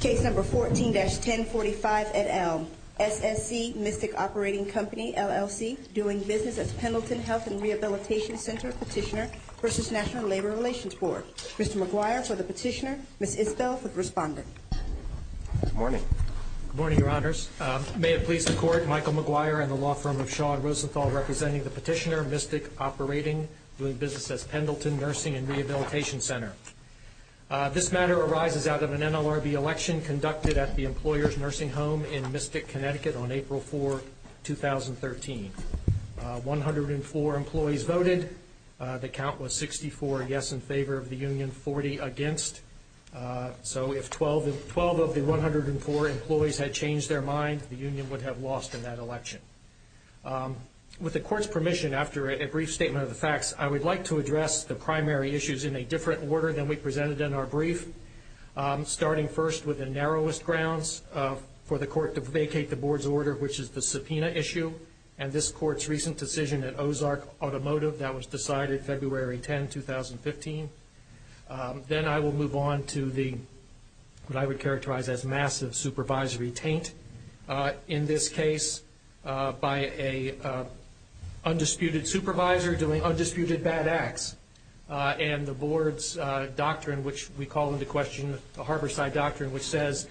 Case number 14-1045 et al. SSC Mystic Operating Company LLC doing business as Pendleton Health and Rehabilitation Center Petitioner versus National Labor Relations Board. Mr. McGuire for the petitioner, Ms. Isbell for the respondent. Good morning. Good morning, Your Honors. May it please the Court, Michael McGuire and the law firm of Shaw and Rosenthal representing the petitioner, Mystic Operating doing business as Pendleton Nursing and Rehabilitation Center. This matter arises out of an NLRB election conducted at the Employers Nursing Home in Mystic, Connecticut on April 4, 2013. 104 employees voted. The count was 64 yes in favor of the union, 40 against. So if 12 of the 104 employees had changed their mind, the union would have lost in that election. With the Court's permission, after a brief statement of the facts, I would like to address the primary issues in a different order than we presented in our brief, starting first with the narrowest grounds for the Court to vacate the Board's order, which is the subpoena issue and this Court's recent decision at Ozark Automotive that was decided February 10, 2015. Then I will move on to what I would characterize as massive supervisory taint in this case by an undisputed supervisor doing undisputed bad acts. And the Board's doctrine, which we call into question the Harborside Doctrine, which says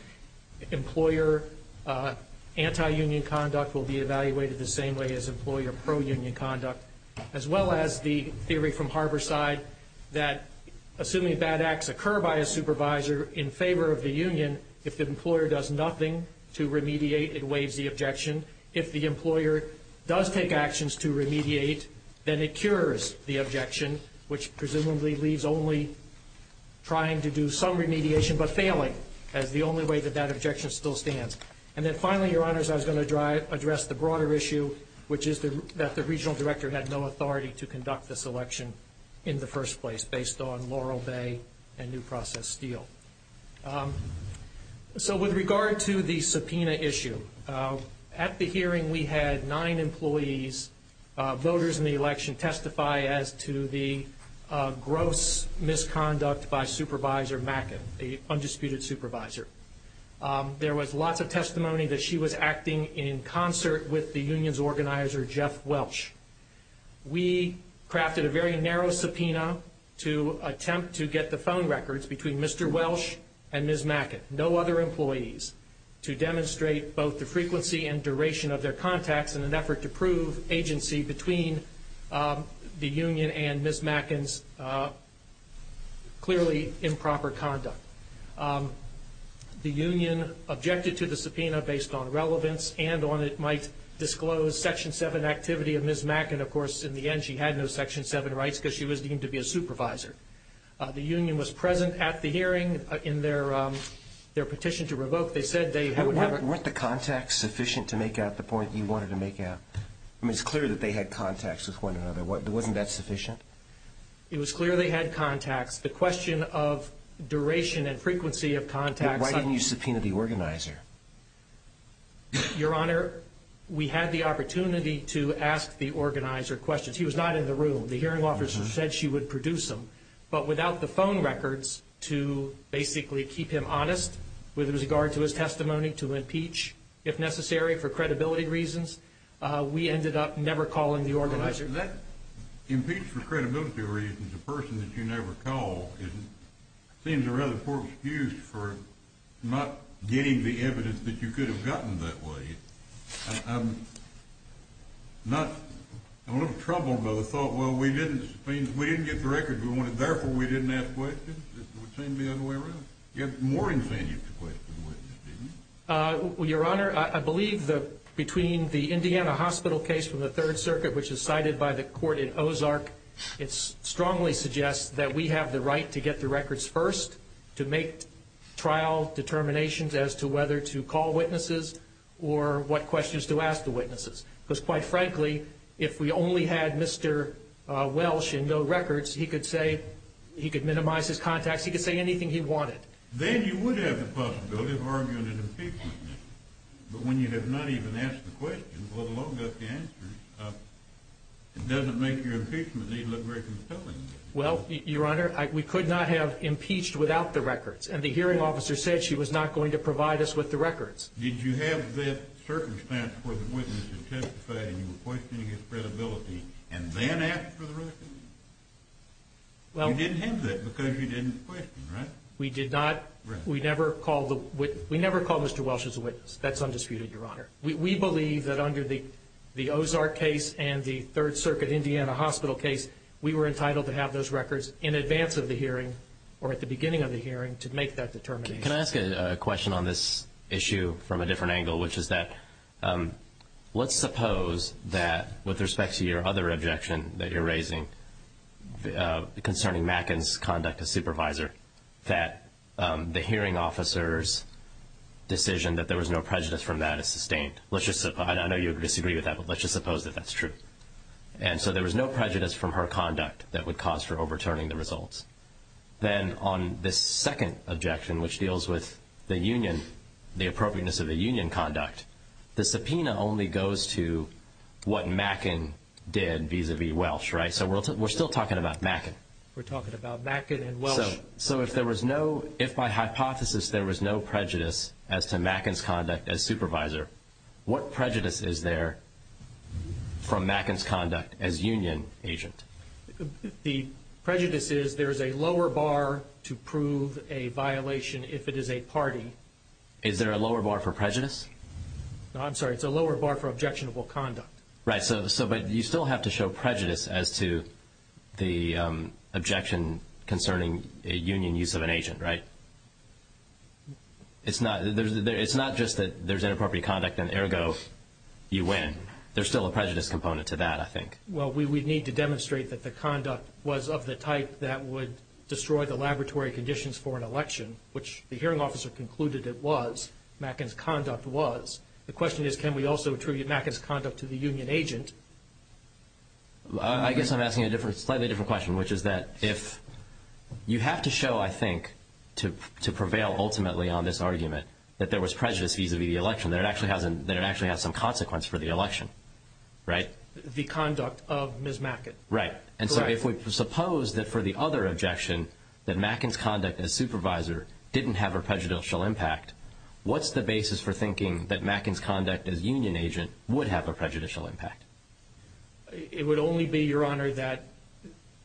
employer anti-union conduct will be evaluated the same way as employer pro-union conduct, as well as the theory from Harborside that assuming bad acts occur by a supervisor in favor of the union, if the employer does nothing to remediate, it waives the objection. If the employer does take actions to remediate, then it cures the objection, which presumably leaves only trying to do some remediation but failing as the only way that that objection still stands. And then finally, Your Honors, I was going to address the broader issue, which is that the Regional Director had no authority to conduct this election in the first place based on Laurel Bay and New Process Steel. So with regard to the subpoena issue, at the hearing we had nine employees, voters in the election, testify as to the gross misconduct by Supervisor Mackin, the undisputed supervisor. There was lots of testimony that she was acting in concert with the union's organizer, Jeff Welch. We crafted a very narrow subpoena to attempt to get the phone records between Mr. Welch and Ms. Mackin, no other employees, to demonstrate both the frequency and duration of their contacts in an effort to prove agency between the union and Ms. Mackin's clearly improper conduct. The union objected to the subpoena based on relevance and on it might disclose Section 7 activity of Ms. Mackin. Of course, in the end, she had no Section 7 rights because she was deemed to be a supervisor. The union was present at the hearing in their petition to revoke. Weren't the contacts sufficient to make out the point you wanted to make out? I mean, it's clear that they had contacts with one another. Wasn't that sufficient? It was clear they had contacts. The question of duration and frequency of contacts... Why didn't you subpoena the organizer? Your Honor, we had the opportunity to ask the organizer questions. He was not in the room. The hearing officer said she would produce them. But without the phone records to basically keep him honest with regard to his testimony to impeach, if necessary, for credibility reasons, we ended up never calling the organizer. That impeach for credibility reasons, a person that you never call, seems a rather poor excuse for not getting the evidence that you could have gotten that way. I'm a little troubled by the thought, well, we didn't get the records we wanted, therefore we didn't ask questions. It would seem to be the other way around. You had more incentives to question witnesses, didn't you? Your Honor, I believe that between the Indiana Hospital case from the Third Circuit, which is cited by the court in Ozark, it strongly suggests that we have the right to get the records first, to make trial determinations as to whether to call witnesses or what questions to ask the witnesses. Because quite frankly, if we only had Mr. Welsh and no records, he could say, he could minimize his contacts, he could say anything he wanted. Then you would have the possibility of arguing an impeachment. But when you have not even asked the question, let alone got the answers, it doesn't make your impeachment need look very compelling. Well, Your Honor, we could not have impeached without the records, and the hearing officer said she was not going to provide us with the records. Did you have that circumstance where the witness had testified and you were questioning his credibility and then asked for the records? You didn't have that because you didn't question, right? We never called Mr. Welsh as a witness. That's undisputed, Your Honor. We believe that under the Ozark case and the Third Circuit Indiana Hospital case, we were entitled to have those records in advance of the hearing or at the beginning of the hearing to make that determination. Can I ask a question on this issue from a different angle, which is that let's suppose that with respect to your other objection that you're raising concerning Macken's conduct as supervisor, that the hearing officer's decision that there was no prejudice from that is sustained. I know you disagree with that, but let's just suppose that that's true. And so there was no prejudice from her conduct that would cause her overturning the results. Then on this second objection, which deals with the appropriateness of the union conduct, the subpoena only goes to what Macken did vis-à-vis Welsh, right? So we're still talking about Macken. We're talking about Macken and Welsh. So if by hypothesis there was no prejudice as to Macken's conduct as supervisor, what prejudice is there from Macken's conduct as union agent? The prejudice is there is a lower bar to prove a violation if it is a party. Is there a lower bar for prejudice? I'm sorry. It's a lower bar for objectionable conduct. Right. But you still have to show prejudice as to the objection concerning a union use of an agent, right? It's not just that there's inappropriate conduct and ergo you win. There's still a prejudice component to that, I think. Well, we need to demonstrate that the conduct was of the type that would destroy the laboratory conditions for an election, which the hearing officer concluded it was. Macken's conduct was. The question is can we also attribute Macken's conduct to the union agent? I guess I'm asking a slightly different question, which is that if you have to show, I think, to prevail ultimately on this argument that there was prejudice vis-à-vis the election, that it actually has some consequence for the election, right? The conduct of Ms. Macken. Right. And so if we suppose that for the other objection that Macken's conduct as supervisor didn't have a prejudicial impact, what's the basis for thinking that Macken's conduct as union agent would have a prejudicial impact? It would only be, Your Honor, that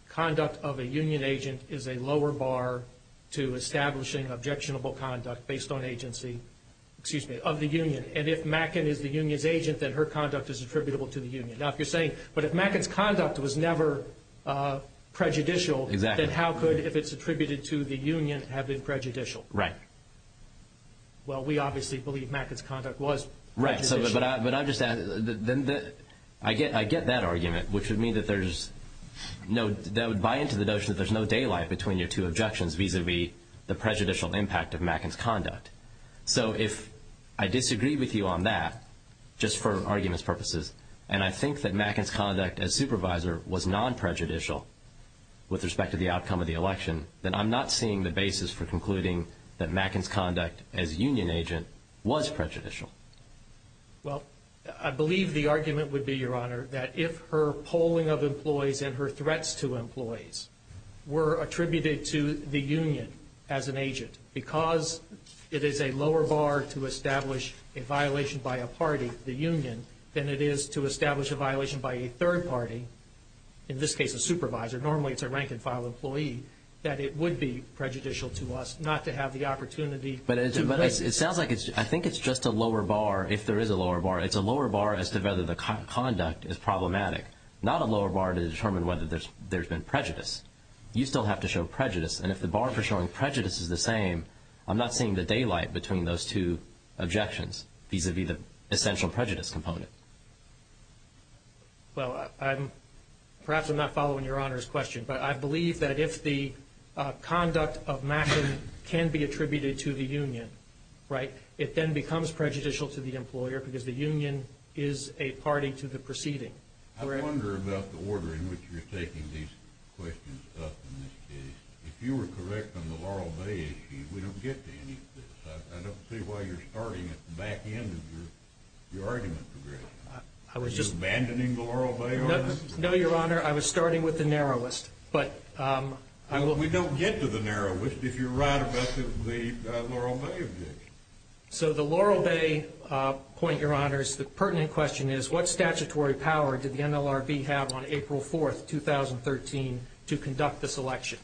conduct of a union agent is a lower bar to establishing objectionable conduct based on agency of the union. And if Macken is the union's agent, then her conduct is attributable to the union. Now, if you're saying, but if Macken's conduct was never prejudicial, then how could, if it's attributed to the union, have it been prejudicial? Right. Well, we obviously believe Macken's conduct was prejudicial. Right, but I'm just asking, I get that argument, which would mean that there's no, that would buy into the notion that there's no daylight between your two objections vis-à-vis the prejudicial impact of Macken's conduct. So if I disagree with you on that, just for arguments purposes, and I think that Macken's conduct as supervisor was non-prejudicial with respect to the outcome of the election, then I'm not seeing the basis for concluding that Macken's conduct as union agent was prejudicial. Well, I believe the argument would be, Your Honor, that if her polling of employees and her threats to employees were attributed to the union as an agent, because it is a lower bar to establish a violation by a party, the union, than it is to establish a violation by a third party, in this case a supervisor, normally it's a rank-and-file employee, that it would be prejudicial to us not to have the opportunity to raise it. But it sounds like it's, I think it's just a lower bar, if there is a lower bar. It's a lower bar as to whether the conduct is problematic, not a lower bar to determine whether there's been prejudice. You still have to show prejudice, and if the bar for showing prejudice is the same, I'm not seeing the daylight between those two objections vis-à-vis the essential prejudice component. Well, perhaps I'm not following Your Honor's question, but I believe that if the conduct of Macken can be attributed to the union, right, it then becomes prejudicial to the employer because the union is a party to the proceeding. I wonder about the order in which you're taking these questions up in this case. If you were correct on the Laurel Bay issue, we don't get to any of this. I don't see why you're starting at the back end of your argument progression. Are you abandoning the Laurel Bay argument? No, Your Honor, I was starting with the narrowest. We don't get to the narrowest if you're right about the Laurel Bay objection. So the Laurel Bay point, Your Honors, the pertinent question is, what statutory power did the NLRB have on April 4, 2013, to conduct this election?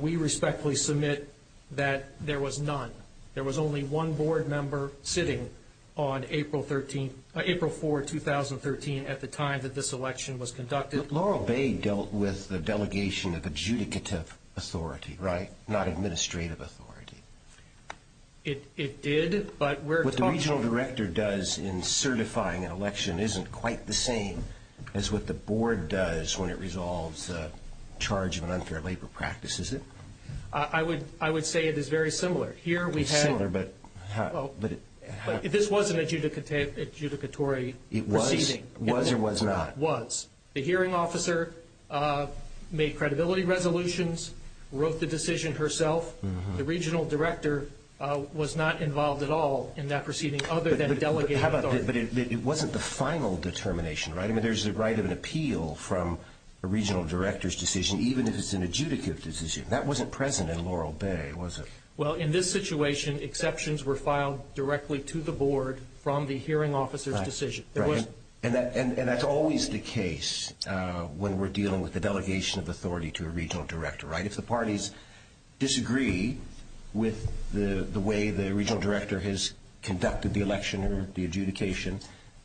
We respectfully submit that there was none. There was only one board member sitting on April 4, 2013, at the time that this election was conducted. But Laurel Bay dealt with the delegation of adjudicative authority, right, not administrative authority. It did. What the regional director does in certifying an election isn't quite the same as what the board does when it resolves the charge of an unfair labor practice, is it? I would say it is very similar. It's similar, but how? This was an adjudicatory proceeding. It was or was not? It was. The hearing officer made credibility resolutions, wrote the decision herself. The regional director was not involved at all in that proceeding other than delegating authority. But it wasn't the final determination, right? I mean, there's the right of an appeal from a regional director's decision, even if it's an adjudicative decision. That wasn't present in Laurel Bay, was it? Well, in this situation, exceptions were filed directly to the board from the hearing officer's decision. And that's always the case when we're dealing with the delegation of authority to a regional director, right? If the parties disagree with the way the regional director has conducted the election or the adjudication,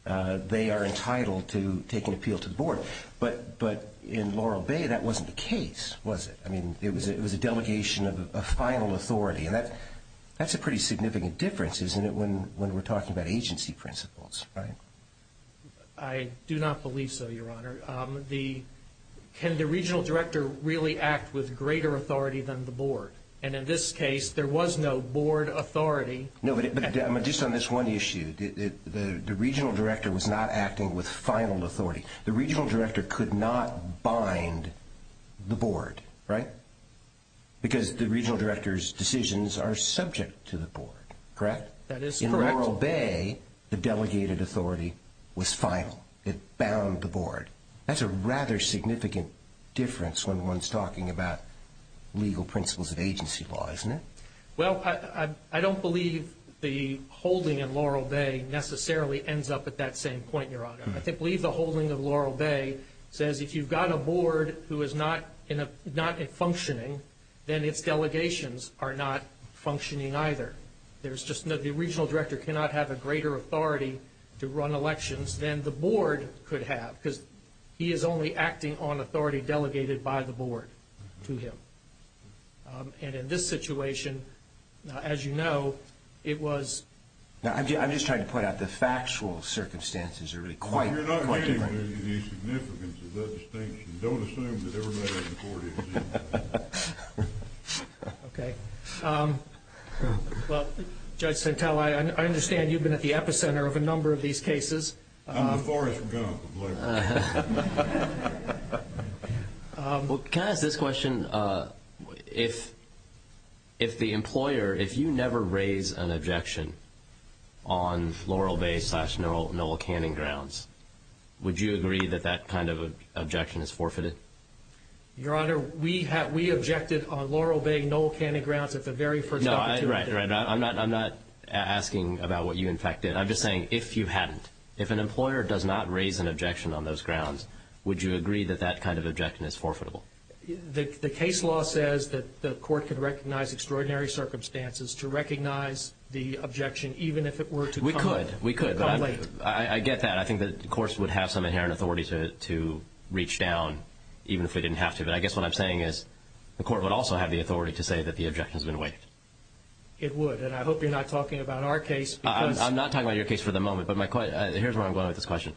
they are entitled to take an appeal to the board. But in Laurel Bay, that wasn't the case, was it? I mean, it was a delegation of final authority. And that's a pretty significant difference, isn't it, when we're talking about agency principles, right? I do not believe so, Your Honor. Can the regional director really act with greater authority than the board? And in this case, there was no board authority. No, but just on this one issue, the regional director was not acting with final authority. The regional director could not bind the board, right? Because the regional director's decisions are subject to the board, correct? That is correct. In Laurel Bay, the delegated authority was final. It bound the board. That's a rather significant difference when one's talking about legal principles of agency law, isn't it? Well, I don't believe the holding in Laurel Bay necessarily ends up at that same point, Your Honor. I believe the holding of Laurel Bay says if you've got a board who is not functioning, then its delegations are not functioning either. The regional director cannot have a greater authority to run elections than the board could have because he is only acting on authority delegated by the board to him. And in this situation, as you know, it was – I'm just trying to point out the factual circumstances are really quite different. You're not hearing the significance of that distinction. Don't assume that everybody on the board is. Okay. Well, Judge Santel, I understand you've been at the epicenter of a number of these cases. I'm the forest gun employer. Well, can I ask this question? If the employer – if you never raise an objection on Laurel Bay slash Noel Canning grounds, would you agree that that kind of objection is forfeited? Your Honor, we objected on Laurel Bay, Noel Canning grounds at the very first opportunity. No, right, right. I'm not asking about what you in fact did. I'm just saying if you hadn't, if an employer does not raise an objection on those grounds, would you agree that that kind of objection is forfeitable? The case law says that the court can recognize extraordinary circumstances to recognize the objection, even if it were to come late. We could. We could. But I get that. And I think that the courts would have some inherent authority to reach down, even if they didn't have to. But I guess what I'm saying is the court would also have the authority to say that the objection has been waived. It would. And I hope you're not talking about our case because – I'm not talking about your case for the moment. But here's where I'm going with this question.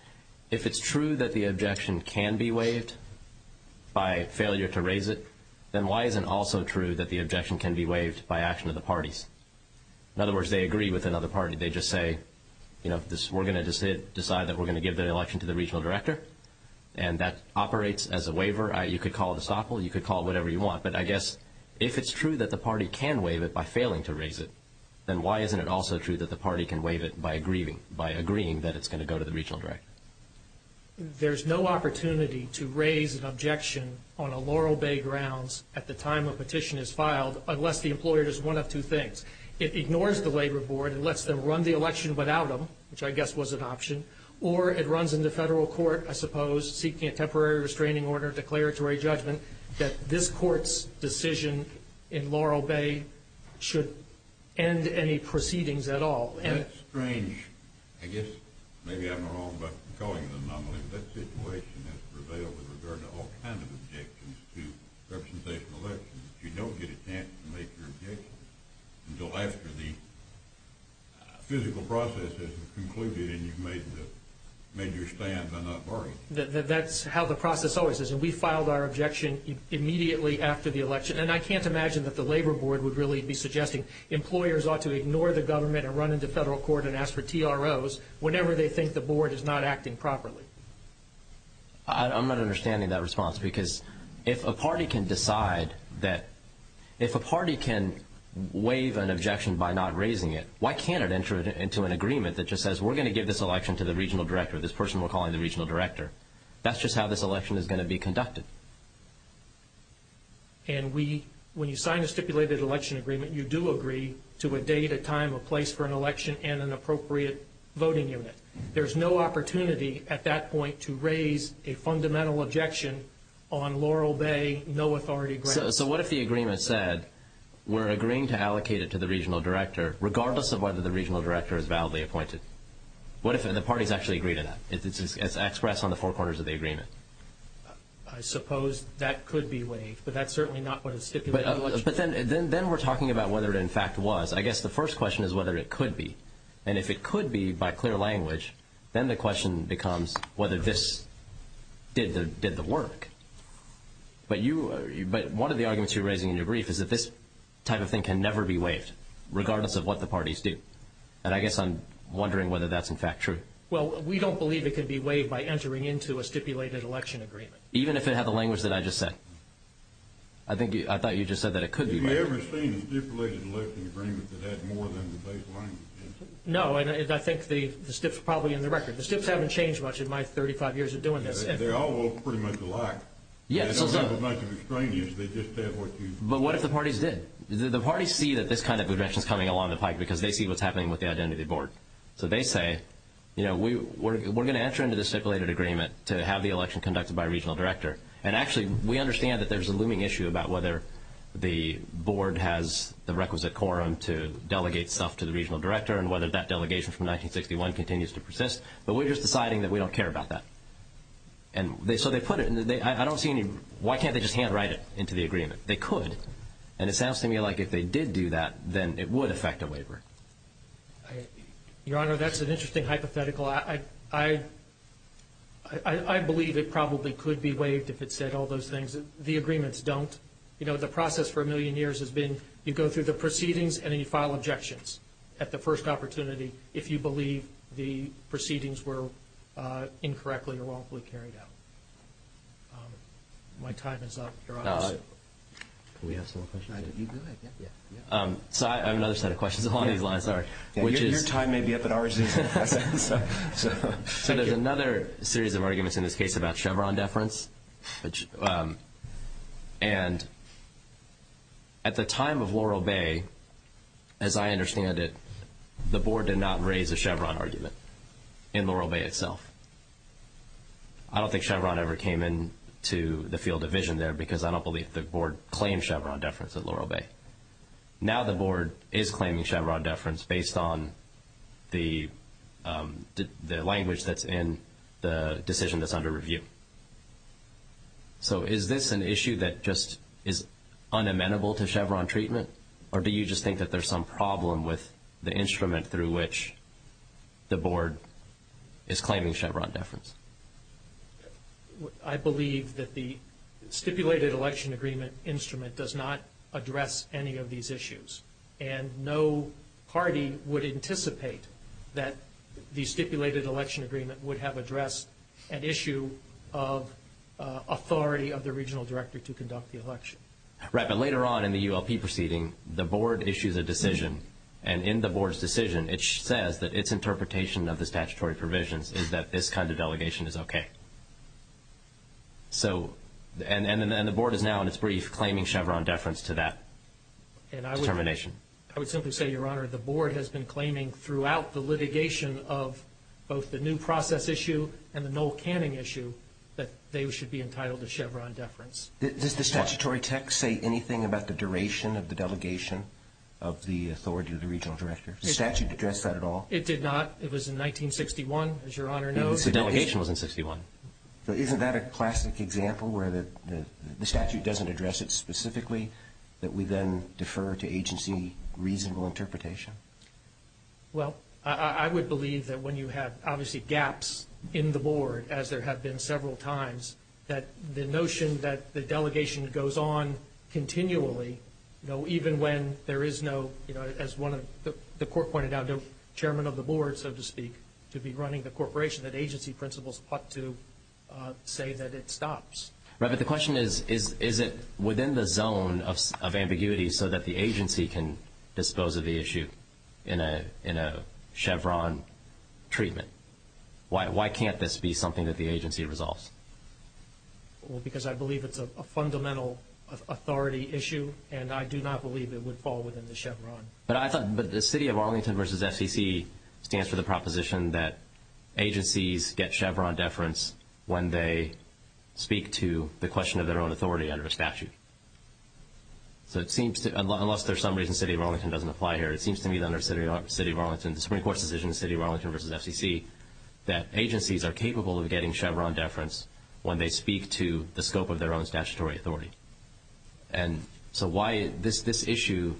If it's true that the objection can be waived by failure to raise it, then why isn't it also true that the objection can be waived by action of the parties? In other words, they agree with another party. They just say, you know, we're going to decide that we're going to give the election to the regional director. And that operates as a waiver. You could call it a stopple. You could call it whatever you want. But I guess if it's true that the party can waive it by failing to raise it, then why isn't it also true that the party can waive it by agreeing that it's going to go to the regional director? There's no opportunity to raise an objection on a Laurel Bay grounds at the time a petition is filed unless the employer does one of two things. It ignores the labor board and lets them run the election without them, which I guess was an option, or it runs into federal court, I suppose, seeking a temporary restraining order, declaratory judgment, that this court's decision in Laurel Bay should end any proceedings at all. That's strange. I guess maybe I'm wrong about calling it an anomaly, but that situation has prevailed with regard to all kinds of objections to representation elections. You don't get a chance to make your objection until after the physical process has concluded and you've made your stand by not voting. That's how the process always is. And we filed our objection immediately after the election. And I can't imagine that the labor board would really be suggesting employers ought to ignore the government and run into federal court and ask for TROs whenever they think the board is not acting properly. I'm not understanding that response because if a party can decide that, if a party can waive an objection by not raising it, why can't it enter into an agreement that just says we're going to give this election to the regional director, this person we're calling the regional director? That's just how this election is going to be conducted. And we, when you sign a stipulated election agreement, you do agree to a date, a time, a place for an election and an appropriate voting unit. There's no opportunity at that point to raise a fundamental objection on Laurel Bay, no authority granted. So what if the agreement said we're agreeing to allocate it to the regional director, regardless of whether the regional director is validly appointed? What if the parties actually agree to that? It's expressed on the four corners of the agreement. I suppose that could be waived, but that's certainly not what a stipulated election is. But then we're talking about whether it in fact was. I guess the first question is whether it could be. And if it could be by clear language, then the question becomes whether this did the work. But one of the arguments you're raising in your brief is that this type of thing can never be waived, regardless of what the parties do. And I guess I'm wondering whether that's in fact true. Well, we don't believe it can be waived by entering into a stipulated election agreement. Even if it had the language that I just said? I thought you just said that it could be waived. Have we ever seen a stipulated election agreement that had more than the base language? No. I think the stips are probably in the record. The stips haven't changed much in my 35 years of doing this. They're all pretty much alike. Yes. They don't have as much extraneous. But what if the parties did? The parties see that this kind of aggression is coming along the pike because they see what's happening with the identity board. So they say, you know, we're going to enter into this stipulated agreement to have the election conducted by a regional director. And actually, we understand that there's a looming issue about whether the board has the requisite quorum to delegate stuff to the regional director and whether that delegation from 1961 continues to persist. But we're just deciding that we don't care about that. And so they put it in. I don't see any. Why can't they just handwrite it into the agreement? They could. And it sounds to me like if they did do that, then it would affect a waiver. Your Honor, that's an interesting hypothetical. I believe it probably could be waived if it said all those things. The agreements don't. You know, the process for a million years has been you go through the proceedings and then you file objections at the first opportunity if you believe the proceedings were incorrectly or wrongfully carried out. My time is up, Your Honor. Can we have some more questions? So I have another set of questions along these lines. Your time may be up at ours. So there's another series of arguments in this case about Chevron deference. And at the time of Laurel Bay, as I understand it, the board did not raise a Chevron argument in Laurel Bay itself. I don't think Chevron ever came into the field of vision there because I don't believe the board claimed Chevron deference at Laurel Bay. Now the board is claiming Chevron deference based on the language that's in the decision that's under review. So is this an issue that just is unamenable to Chevron treatment, or do you just think that there's some problem with the instrument through which the board is claiming Chevron deference? I believe that the stipulated election agreement instrument does not address any of these issues, and no party would anticipate that the stipulated election agreement would have addressed an issue of authority of the regional director to conduct the election. Right, but later on in the ULP proceeding, the board issues a decision, and in the board's decision, it says that its interpretation of the statutory provisions is that this kind of delegation is okay. And the board is now in its brief claiming Chevron deference to that determination? I would simply say, Your Honor, the board has been claiming throughout the litigation of both the new process issue and the Noel Canning issue that they should be entitled to Chevron deference. Does the statutory text say anything about the duration of the delegation of the authority of the regional director? Does the statute address that at all? It did not. It was in 1961, as Your Honor knows. The delegation was in 1961. Isn't that a classic example where the statute doesn't address it specifically, that we then defer to agency reasonable interpretation? Well, I would believe that when you have, obviously, gaps in the board, as there have been several times, that the notion that the delegation goes on continually, even when there is no, as the court pointed out, chairman of the board, so to speak, to be running the corporation, that agency principles ought to say that it stops. Right, but the question is, is it within the zone of ambiguity so that the agency can dispose of the issue in a Chevron treatment? Why can't this be something that the agency resolves? Well, because I believe it's a fundamental authority issue, and I do not believe it would fall within the Chevron. But I thought the City of Arlington v. FCC stands for the proposition that agencies get Chevron deference when they speak to the question of their own authority under a statute. So it seems to me, unless for some reason City of Arlington doesn't apply here, it seems to me that under the Supreme Court's decision, City of Arlington v. FCC, that agencies are capable of getting Chevron deference when they speak to the scope of their own statutory authority. And so why this issue,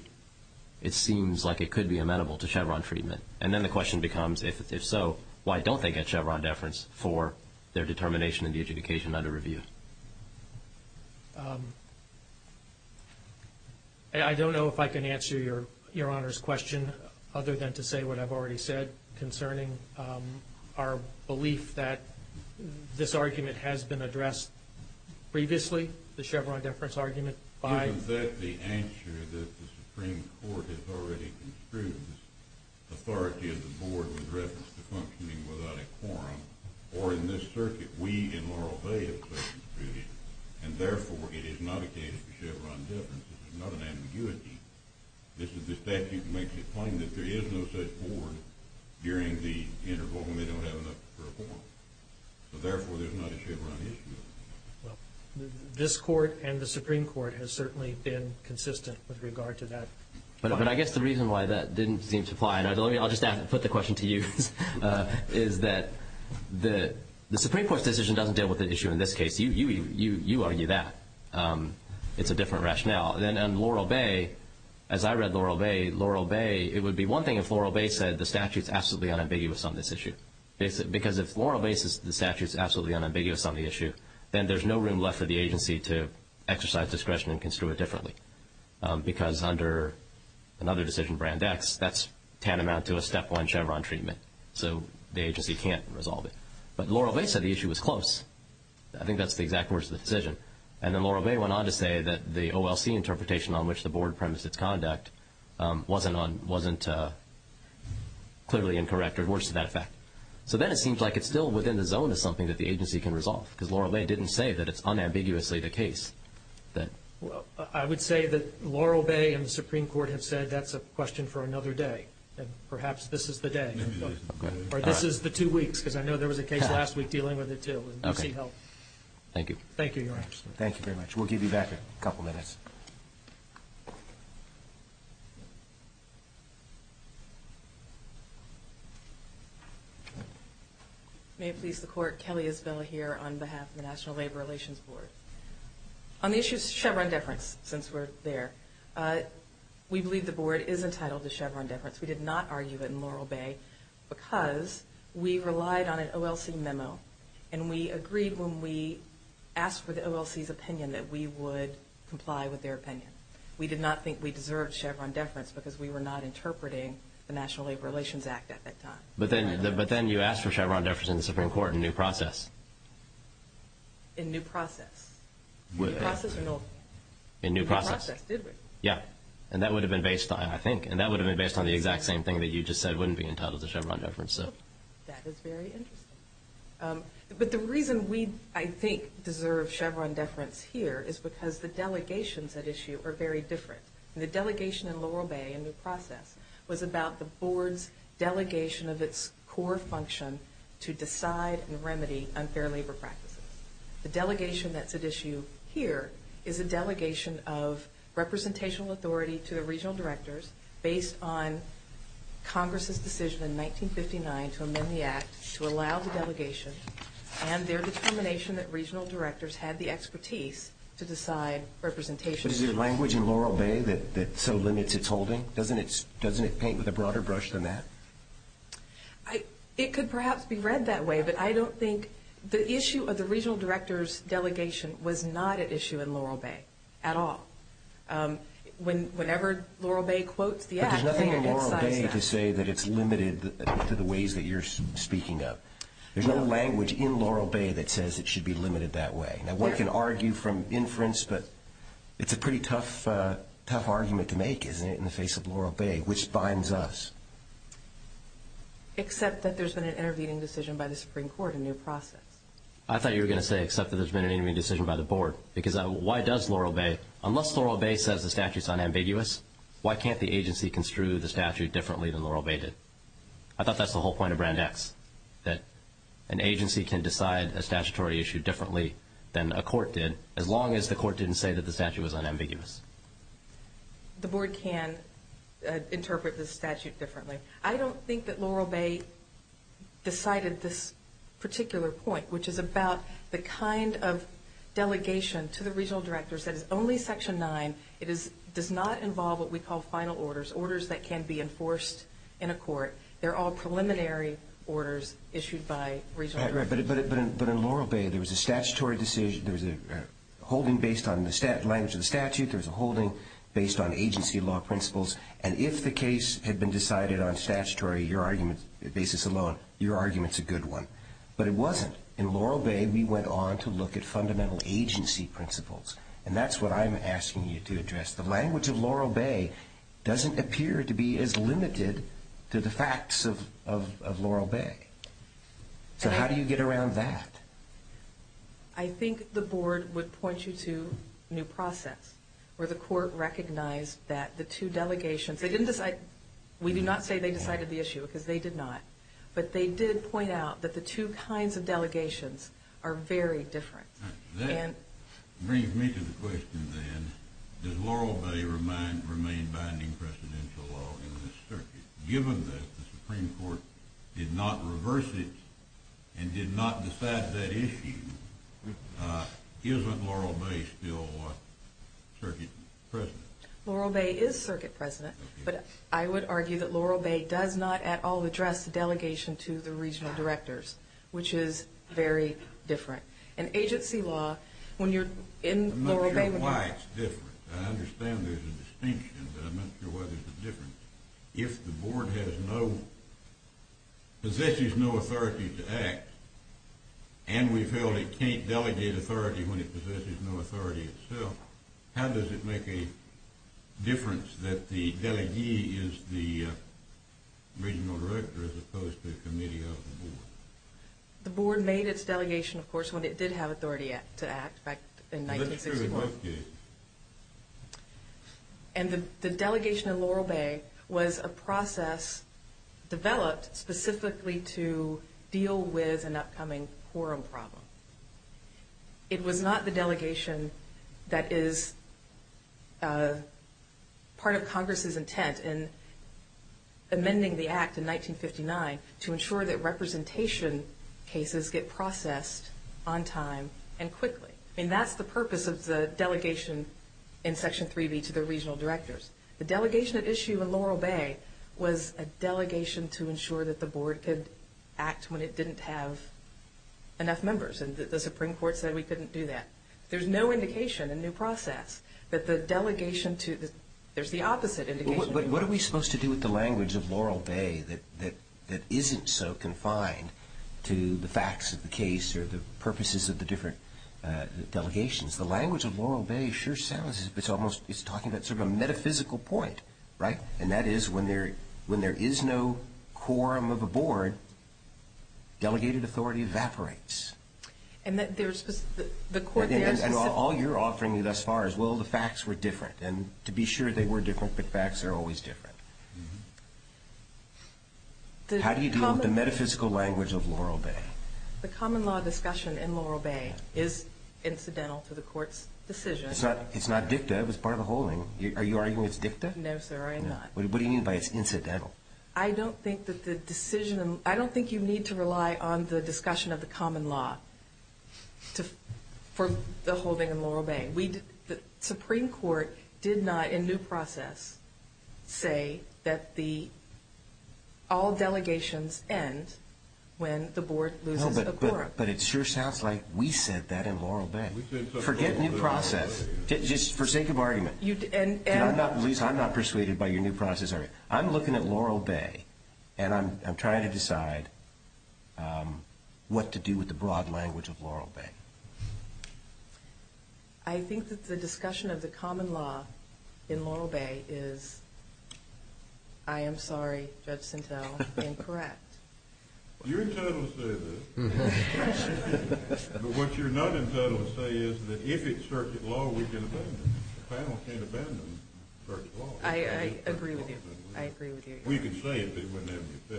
it seems like it could be amenable to Chevron treatment. And then the question becomes, if so, why don't they get Chevron deference for their determination in the adjudication under review? I don't know if I can answer Your Honor's question other than to say what I've already said concerning our belief that this argument has been addressed previously, the Chevron deference argument, by... Isn't that the answer that the Supreme Court has already construed? The authority of the board was referenced to functioning without a quorum. Or in this circuit, we in Laurel Bay have said we've construed it, and therefore it is not a case for Chevron deference. This is not an ambiguity. This statute makes it plain that there is no such board during the interval when they don't have enough for a quorum. So therefore there's not a Chevron issue. Well, this court and the Supreme Court has certainly been consistent with regard to that. But I guess the reason why that didn't seem to apply, and I'll just put the question to you, is that the Supreme Court's decision doesn't deal with the issue in this case. You argue that. It's a different rationale. And Laurel Bay, as I read Laurel Bay, it would be one thing if Laurel Bay said the statute's absolutely unambiguous on this issue. Because if Laurel Bay says the statute's absolutely unambiguous on the issue, then there's no room left for the agency to exercise discretion and construe it differently. Because under another decision, Brand X, that's tantamount to a step one Chevron treatment. So the agency can't resolve it. But Laurel Bay said the issue was close. I think that's the exact words of the decision. And then Laurel Bay went on to say that the OLC interpretation on which the board premised its conduct wasn't clearly incorrect or worse to that effect. So then it seems like it's still within the zone as something that the agency can resolve. Because Laurel Bay didn't say that it's unambiguously the case. I would say that Laurel Bay and the Supreme Court have said that's a question for another day. And perhaps this is the day. Or this is the two weeks, because I know there was a case last week dealing with it, too. And you see health. Thank you. Thank you, Your Honor. Thank you very much. We'll give you back a couple minutes. May it please the Court, Kelly Isabella here on behalf of the National Labor Relations Board. On the issue of Chevron deference, since we're there, we believe the board is entitled to Chevron deference. We did not argue it in Laurel Bay because we relied on an OLC memo. And we agreed when we asked for the OLC's opinion that we would comply with their opinion. We did not think we deserved Chevron deference because we were not interpreting the National Labor Relations Act at that time. But then you asked for Chevron deference in the Supreme Court in new process. In new process. New process or no? In new process. In new process, did we? Yeah. And that would have been based on, I think, and that would have been based on the exact same thing that you just said wouldn't be entitled to Chevron deference. That is very interesting. But the reason we, I think, deserve Chevron deference here is because the delegations at issue are very different. The delegation in Laurel Bay in new process was about the board's delegation of its core function to decide and remedy unfair labor practices. The delegation that's at issue here is a delegation of representational authority to the regional directors based on Congress's decision in 1959 to amend the Act to allow the delegation and their determination that regional directors had the expertise to decide representation. But is there language in Laurel Bay that so limits its holding? Doesn't it paint with a broader brush than that? It could perhaps be read that way, but I don't think the issue of the regional directors' delegation was not at issue in Laurel Bay at all. Whenever Laurel Bay quotes the Act, it incites that. But there's nothing in Laurel Bay to say that it's limited to the ways that you're speaking of. There's no language in Laurel Bay that says it should be limited that way. Now, one can argue from inference, but it's a pretty tough argument to make, isn't it, in the face of Laurel Bay, which binds us. Except that there's been an intervening decision by the Supreme Court in new process. I thought you were going to say except that there's been an intervening decision by the board. Because why does Laurel Bay, unless Laurel Bay says the statute's unambiguous, why can't the agency construe the statute differently than Laurel Bay did? I thought that's the whole point of Brand X, that an agency can decide a statutory issue differently than a court did, as long as the court didn't say that the statute was unambiguous. The board can interpret the statute differently. I don't think that Laurel Bay decided this particular point, which is about the kind of delegation to the regional directors that is only Section 9. It does not involve what we call final orders, orders that can be enforced in a court. They're all preliminary orders issued by regional directors. But in Laurel Bay, there was a statutory decision. There was a holding based on the language of the statute. There was a holding based on agency law principles. And if the case had been decided on statutory basis alone, your argument's a good one. But it wasn't. In Laurel Bay, we went on to look at fundamental agency principles, and that's what I'm asking you to address. The language of Laurel Bay doesn't appear to be as limited to the facts of Laurel Bay. So how do you get around that? I think the board would point you to new process, where the court recognized that the two delegations, they didn't decide, we do not say they decided the issue because they did not, but they did point out that the two kinds of delegations are very different. That brings me to the question, then, does Laurel Bay remain binding presidential law in this circuit? Given that the Supreme Court did not reverse it and did not decide that issue, isn't Laurel Bay still circuit president? Laurel Bay is circuit president, but I would argue that Laurel Bay does not at all address the delegation to the regional directors, which is very different. And agency law, when you're in Laurel Bay, I'm not sure why it's different. I understand there's a distinction, but I'm not sure why there's a difference. If the board has no, possesses no authority to act, and we've held it can't delegate authority when it possesses no authority itself, how does it make a difference that the delegee is the regional director as opposed to the committee of the board? The board made its delegation, of course, when it did have authority to act back in 1961. Well, that's true of both cases. And the delegation in Laurel Bay was a process developed specifically to deal with an upcoming quorum problem. It was not the delegation that is part of Congress's intent in amending the act in 1959 to ensure that representation cases get processed on time and quickly. I mean, that's the purpose of the delegation in Section 3B to the regional directors. The delegation at issue in Laurel Bay was a delegation to ensure that the board could act when it didn't have enough members, and the Supreme Court said we couldn't do that. There's no indication in the process that the delegation to the, there's the opposite indication. But what are we supposed to do with the language of Laurel Bay that isn't so confined to the facts of the case or the purposes of the different delegations? The language of Laurel Bay sure sounds, it's almost, it's talking about sort of a metaphysical point, right? And that is when there is no quorum of a board, delegated authority evaporates. And that there's, the court there is specific. And all you're offering me thus far is, well, the facts were different. And to be sure they were different, but facts are always different. How do you deal with the metaphysical language of Laurel Bay? The common law discussion in Laurel Bay is incidental to the court's decision. It's not dicta, it was part of the holding. Are you arguing it's dicta? No, sir, I am not. What do you mean by it's incidental? I don't think that the decision, I don't think you need to rely on the discussion of the common law for the holding in Laurel Bay. The Supreme Court did not in due process say that the, all delegations end when the board loses a quorum. No, but it sure sounds like we said that in Laurel Bay. Forget new process. Just for sake of argument. I'm not persuaded by your new process argument. I'm looking at Laurel Bay, and I'm trying to decide what to do with the broad language of Laurel Bay. I think that the discussion of the common law in Laurel Bay is, I am sorry, Judge Sintel, incorrect. You're entitled to say that. But what you're not entitled to say is that if it's circuit law, we can abandon it. The panel can't abandon circuit law. I agree with you. I agree with you. We can say it, but it wouldn't have to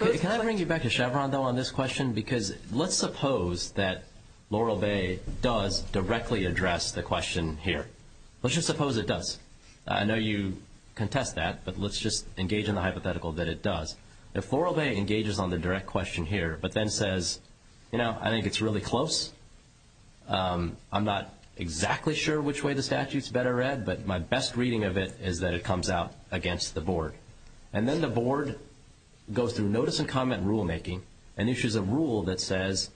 be fixed. Can I bring you back to Chevron, though, on this question? Because let's suppose that Laurel Bay does directly address the question here. Let's just suppose it does. I know you contest that, but let's just engage in the hypothetical that it does. If Laurel Bay engages on the direct question here but then says, you know, I think it's really close. I'm not exactly sure which way the statute's better read, but my best reading of it is that it comes out against the board. And then the board goes through notice and comment rulemaking and issues a rule that says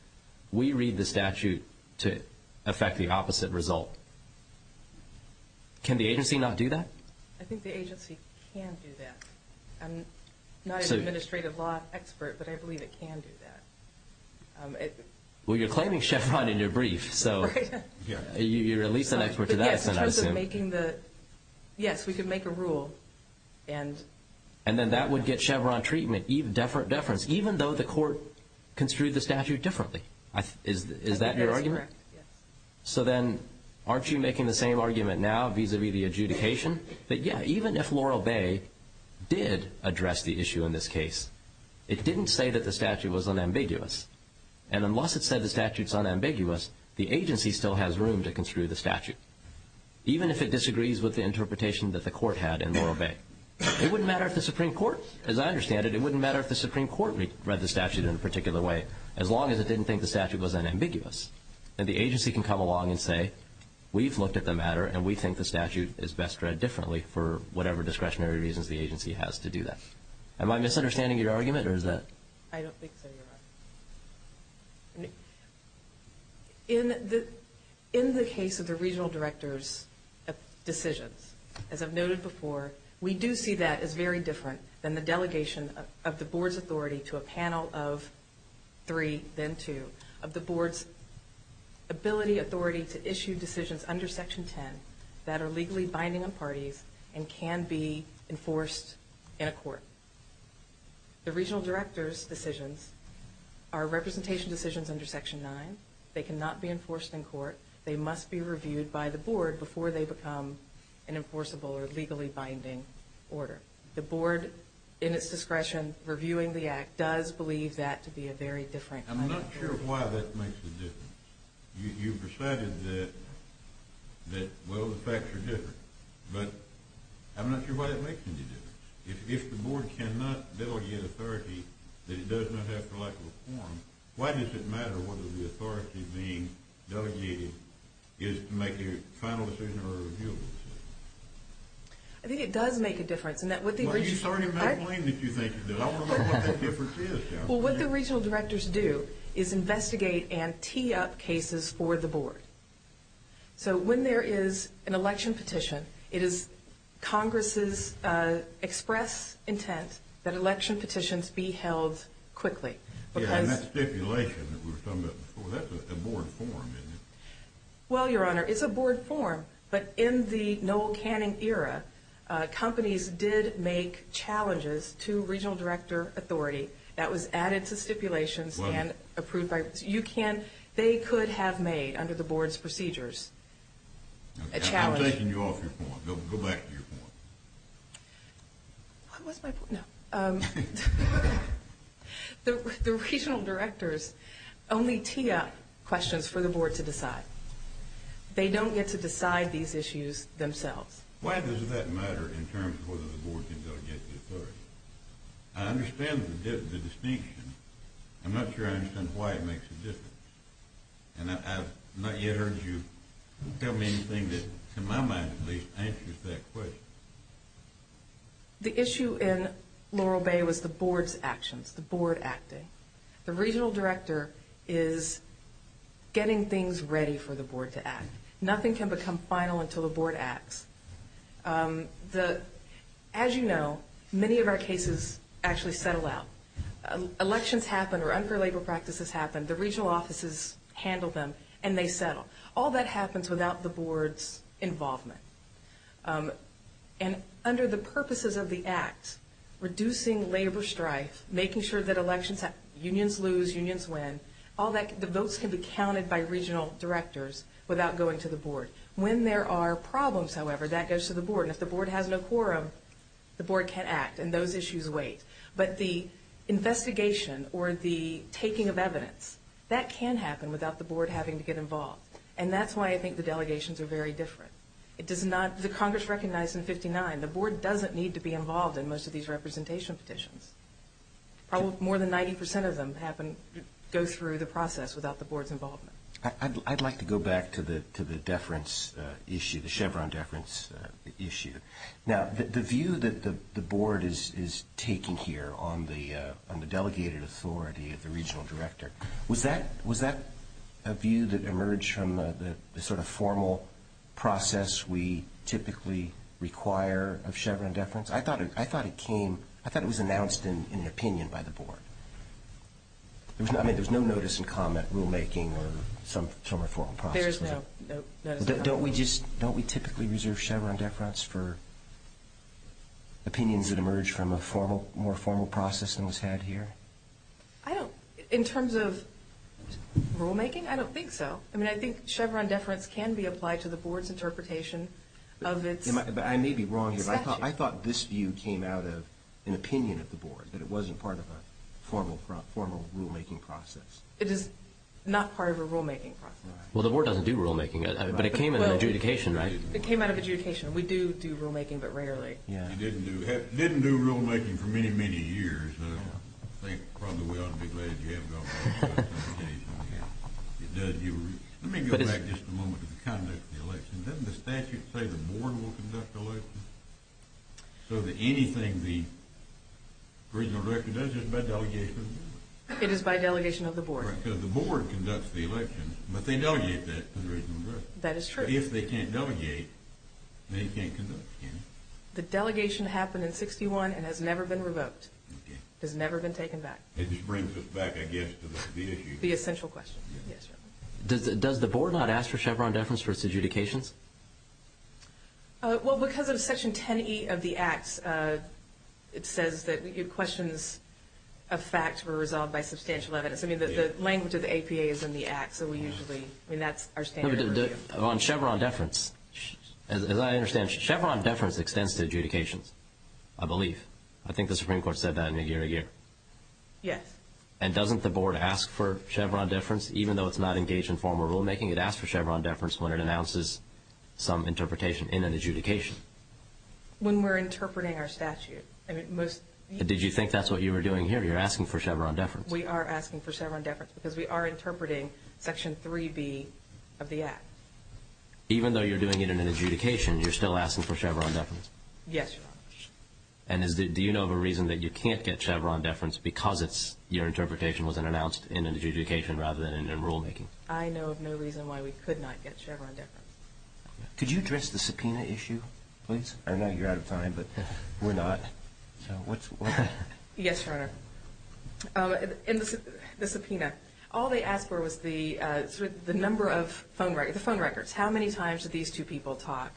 we read the statute to affect the opposite result. Can the agency not do that? I think the agency can do that. I'm not an administrative law expert, but I believe it can do that. Well, you're claiming Chevron in your brief, so you're at least an expert to that extent, I assume. Yes, we could make a rule. And then that would get Chevron treatment, deference, even though the court construed the statute differently. Is that your argument? That's correct, yes. So then aren't you making the same argument now vis-à-vis the adjudication? That, yeah, even if Laurel Bay did address the issue in this case, it didn't say that the statute was unambiguous. And unless it said the statute's unambiguous, the agency still has room to construe the statute, even if it disagrees with the interpretation that the court had in Laurel Bay. It wouldn't matter if the Supreme Court, as I understand it, it wouldn't matter if the Supreme Court read the statute in a particular way as long as it didn't think the statute was unambiguous. And the agency can come along and say, we've looked at the matter, and we think the statute is best read differently for whatever discretionary reasons the agency has to do that. Am I misunderstanding your argument, or is that? I don't think so, Your Honor. In the case of the regional director's decisions, as I've noted before, we do see that as very different than the delegation of the board's authority to a panel of three, then two, of the board's ability, authority to issue decisions under Section 10 that are legally binding on parties and can be enforced in a court. The regional director's decisions are representation decisions under Section 9. They cannot be enforced in court. They must be reviewed by the board before they become an enforceable or legally binding order. The board, in its discretion reviewing the act, does believe that to be a very different kind of order. I'm not sure why that makes a difference. You've recited that, well, the facts are different. But I'm not sure why that makes any difference. If the board cannot delegate authority that it does not have for lack of a forum, why does it matter whether the authority being delegated is to make a final decision or a reviewable decision? I think it does make a difference. Well, you started that claim that you think it does. I want to know what that difference is. Well, what the regional directors do is investigate and tee up cases for the board. So when there is an election petition, it is Congress's express intent that election petitions be held quickly. Yeah, and that's stipulation that we were talking about before. That's a board forum, isn't it? Well, Your Honor, it's a board forum. But in the Noel Canning era, companies did make challenges to regional director authority. That was added to stipulations and approved by you. They could have made, under the board's procedures, a challenge. I'm taking you off your point. Go back to your point. What was my point? No. The regional directors only tee up questions for the board to decide. They don't get to decide these issues themselves. Why does that matter in terms of whether the board can go get the authority? I understand the distinction. I'm not sure I understand why it makes a difference. And I've not yet heard you tell me anything that, in my mind at least, answers that question. The issue in Laurel Bay was the board's actions, the board acting. The regional director is getting things ready for the board to act. Nothing can become final until the board acts. As you know, many of our cases actually settle out. Elections happen or unfair labor practices happen. The regional offices handle them, and they settle. All that happens without the board's involvement. And under the purposes of the act, reducing labor strife, making sure that elections happen, unions lose, unions win, the votes can be counted by regional directors without going to the board. When there are problems, however, that goes to the board. And if the board has no quorum, the board can act, and those issues wait. But the investigation or the taking of evidence, that can happen without the board having to get involved. And that's why I think the delegations are very different. The Congress recognized in 59 the board doesn't need to be involved in most of these representation petitions. More than 90 percent of them go through the process without the board's involvement. I'd like to go back to the deference issue, the Chevron deference issue. Now, the view that the board is taking here on the delegated authority of the regional director, was that a view that emerged from the sort of formal process we typically require of Chevron deference? I thought it came, I thought it was announced in an opinion by the board. I mean, there was no notice and comment rulemaking or some sort of formal process. Don't we just, don't we typically reserve Chevron deference for opinions that emerge from a more formal process than was had here? I don't, in terms of rulemaking, I don't think so. I mean, I think Chevron deference can be applied to the board's interpretation of its statute. I may be wrong here, but I thought this view came out of an opinion of the board, that it wasn't part of a formal rulemaking process. It is not part of a rulemaking process. Well, the board doesn't do rulemaking, but it came in adjudication, right? It came out of adjudication. We do do rulemaking, but rarely. You didn't do rulemaking for many, many years. I think probably we ought to be glad you haven't gone back and done anything. Let me go back just a moment to the conduct of the election. Doesn't the statute say the board will conduct the election? So that anything the regional director does is by delegation? It is by delegation of the board. Right, because the board conducts the election, but they delegate that to the regional director. That is true. If they can't delegate, they can't conduct, can they? The delegation happened in 61 and has never been revoked. Okay. It has never been taken back. It just brings us back, I guess, to the issue. The essential question. Yes, sir. Does the board not ask for Chevron deference for its adjudications? Well, because of Section 10E of the Act, it says that questions of fact were resolved by substantial evidence. I mean, the language of the APA is in the Act, so we usually, I mean, that's our standard. On Chevron deference, as I understand, Chevron deference extends to adjudications, I believe. I think the Supreme Court said that in a year to year. Yes. And doesn't the board ask for Chevron deference, even though it's not engaged in formal rulemaking? It asks for Chevron deference when it announces some interpretation in an adjudication. When we're interpreting our statute. Did you think that's what you were doing here? You're asking for Chevron deference. We are asking for Chevron deference because we are interpreting Section 3B of the Act. Even though you're doing it in an adjudication, you're still asking for Chevron deference? Yes, Your Honor. And do you know of a reason that you can't get Chevron deference because your interpretation wasn't announced in an adjudication rather than in rulemaking? I know of no reason why we could not get Chevron deference. Could you address the subpoena issue, please? I know you're out of time, but we're not. Yes, Your Honor. In the subpoena, all they asked for was the number of phone records. How many times did these two people talk?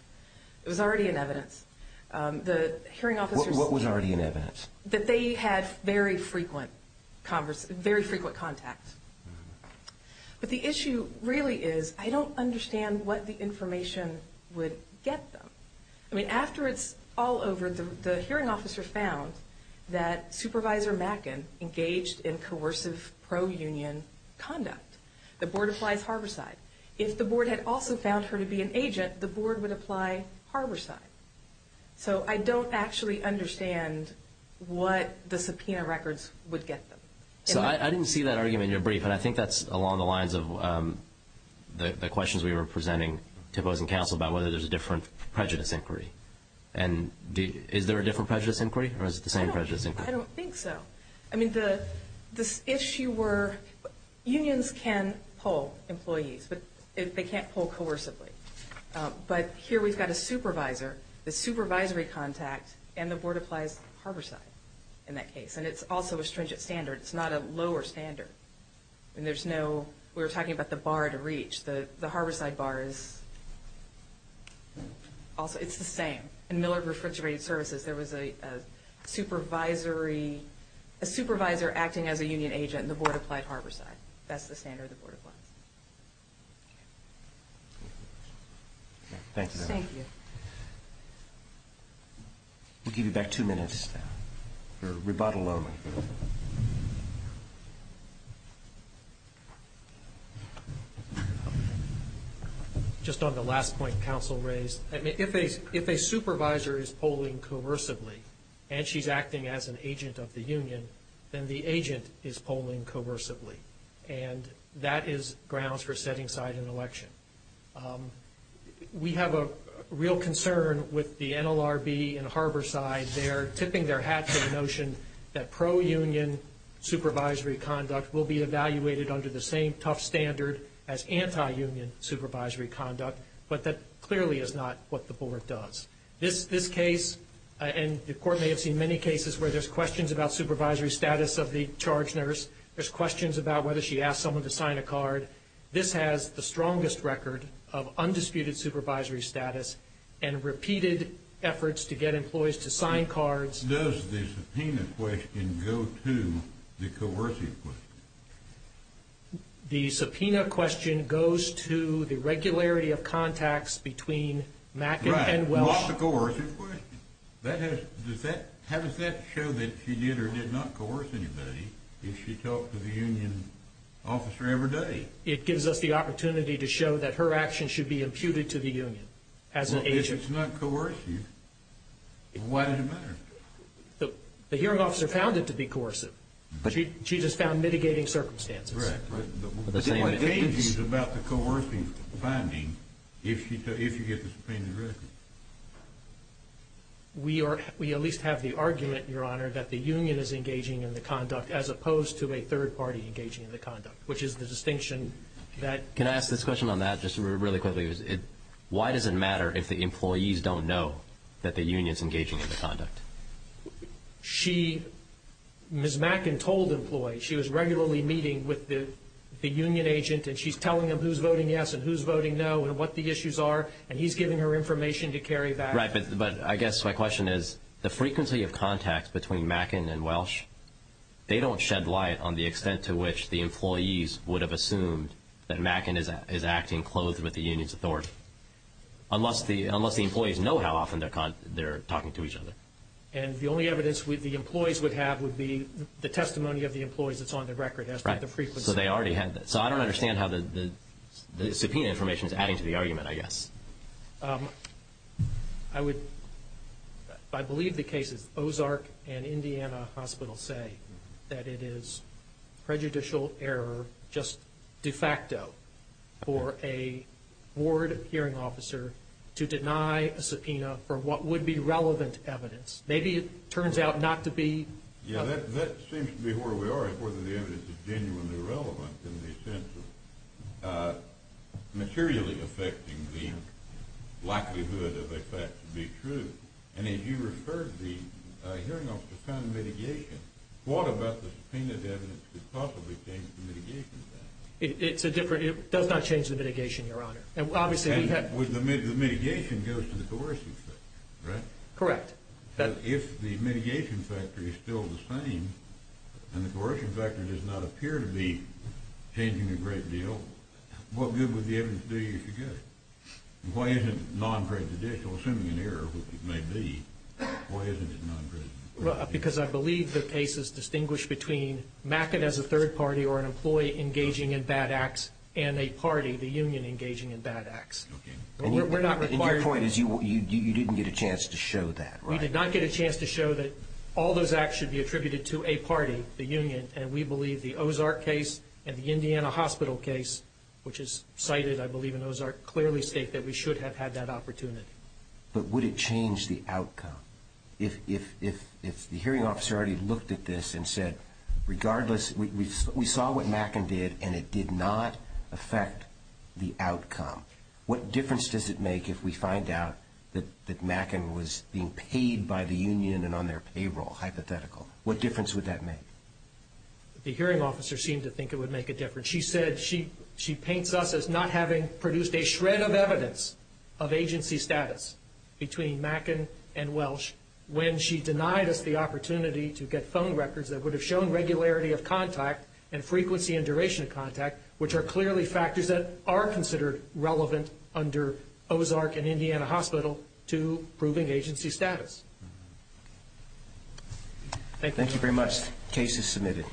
It was already in evidence. What was already in evidence? That they had very frequent contact. But the issue really is I don't understand what the information would get them. I mean, after it's all over, the hearing officer found that Supervisor Macken engaged in coercive pro-union conduct. The board applies harborside. If the board had also found her to be an agent, the board would apply harborside. So I don't actually understand what the subpoena records would get them. So I didn't see that argument in your brief, and I think that's along the lines of the questions we were presenting to opposing counsel about whether there's a different prejudice inquiry. And is there a different prejudice inquiry, or is it the same prejudice inquiry? I don't think so. I mean, this issue where unions can pull employees, but they can't pull coercively. But here we've got a supervisor, the supervisory contact, and the board applies harborside in that case. And it's also a stringent standard. It's not a lower standard. We were talking about the bar to reach. The harborside bar is the same. In Miller Refrigerated Services, there was a supervisor acting as a union agent, and the board applied harborside. That's the standard the board applies. Thank you. We'll give you back two minutes for rebuttal only. Just on the last point counsel raised, I mean, if a supervisor is pulling coercively and she's acting as an agent of the union, then the agent is pulling coercively, and that is grounds for setting aside an election. We have a real concern with the NLRB and harborside. They're tipping their hat to the notion that pro-union supervisory conduct will be evaluated under the same tough standard as anti-union supervisory conduct, but that clearly is not what the board does. This case, and the court may have seen many cases where there's questions about supervisory status of the charge nurse. There's questions about whether she asked someone to sign a card. This has the strongest record of undisputed supervisory status and repeated efforts to get employees to sign cards. Does the subpoena question go to the coercive question? The subpoena question goes to the regularity of contacts between Mack and Welch. Right. Not the coercive question. How does that show that she did or did not coerce anybody if she talked to the union officer every day? It gives us the opportunity to show that her actions should be imputed to the union as an agent. Well, if it's not coercive, why does it matter? The hearing officer found it to be coercive. She just found mitigating circumstances. It's about the coercive finding if you get the subpoenaed record. We at least have the argument, Your Honor, that the union is engaging in the conduct as opposed to a third party engaging in the conduct, which is the distinction that Can I ask this question on that just really quickly? Why does it matter if the employees don't know that the union is engaging in the conduct? She, Ms. Mackin, told employees she was regularly meeting with the union agent and she's telling them who's voting yes and who's voting no and what the issues are, and he's giving her information to carry back. Right, but I guess my question is the frequency of contacts between Mackin and Welch, they don't shed light on the extent to which the employees would have assumed that Mackin is acting clothed with the union's authority, unless the employees know how often they're talking to each other. And the only evidence the employees would have would be the testimony of the employees that's on the record as to the frequency. So I don't understand how the subpoena information is adding to the argument, I guess. I believe the case is Ozark and Indiana Hospital say that it is prejudicial error just de facto for a board hearing officer to deny a subpoena for what would be relevant evidence. Maybe it turns out not to be. Yeah, that seems to be where we are as to whether the evidence is genuinely relevant in the sense of materially affecting the likelihood of a fact to be true. And as you referred, the hearing officer found mitigation. What about the subpoenaed evidence could possibly change the mitigation factor? It does not change the mitigation, Your Honor. And the mitigation goes to the coercion factor, right? Correct. If the mitigation factor is still the same and the coercion factor does not appear to be changing a great deal, what good would the evidence do you suggest? Why isn't it non-prejudicial, assuming an error, which it may be, why isn't it non-prejudicial? Because I believe the case is distinguished between Mackett as a third party or an employee engaging in bad acts and a party, the union, engaging in bad acts. Okay. And your point is you didn't get a chance to show that, right? We did not get a chance to show that all those acts should be attributed to a party, the union, and we believe the Ozark case and the Indiana Hospital case, which is cited, I believe, in Ozark, clearly state that we should have had that opportunity. But would it change the outcome if the hearing officer already looked at this and said, regardless, we saw what Mackett did and it did not affect the outcome. What difference does it make if we find out that Mackett was being paid by the union and on their payroll, hypothetical? What difference would that make? The hearing officer seemed to think it would make a difference. She paints us as not having produced a shred of evidence of agency status between Mackett and Welsh when she denied us the opportunity to get phone records that would have shown regularity of contact and frequency and duration of contact, which are clearly factors that are considered relevant under Ozark and Indiana Hospital to proving agency status. Thank you. Thank you very much. Case is submitted.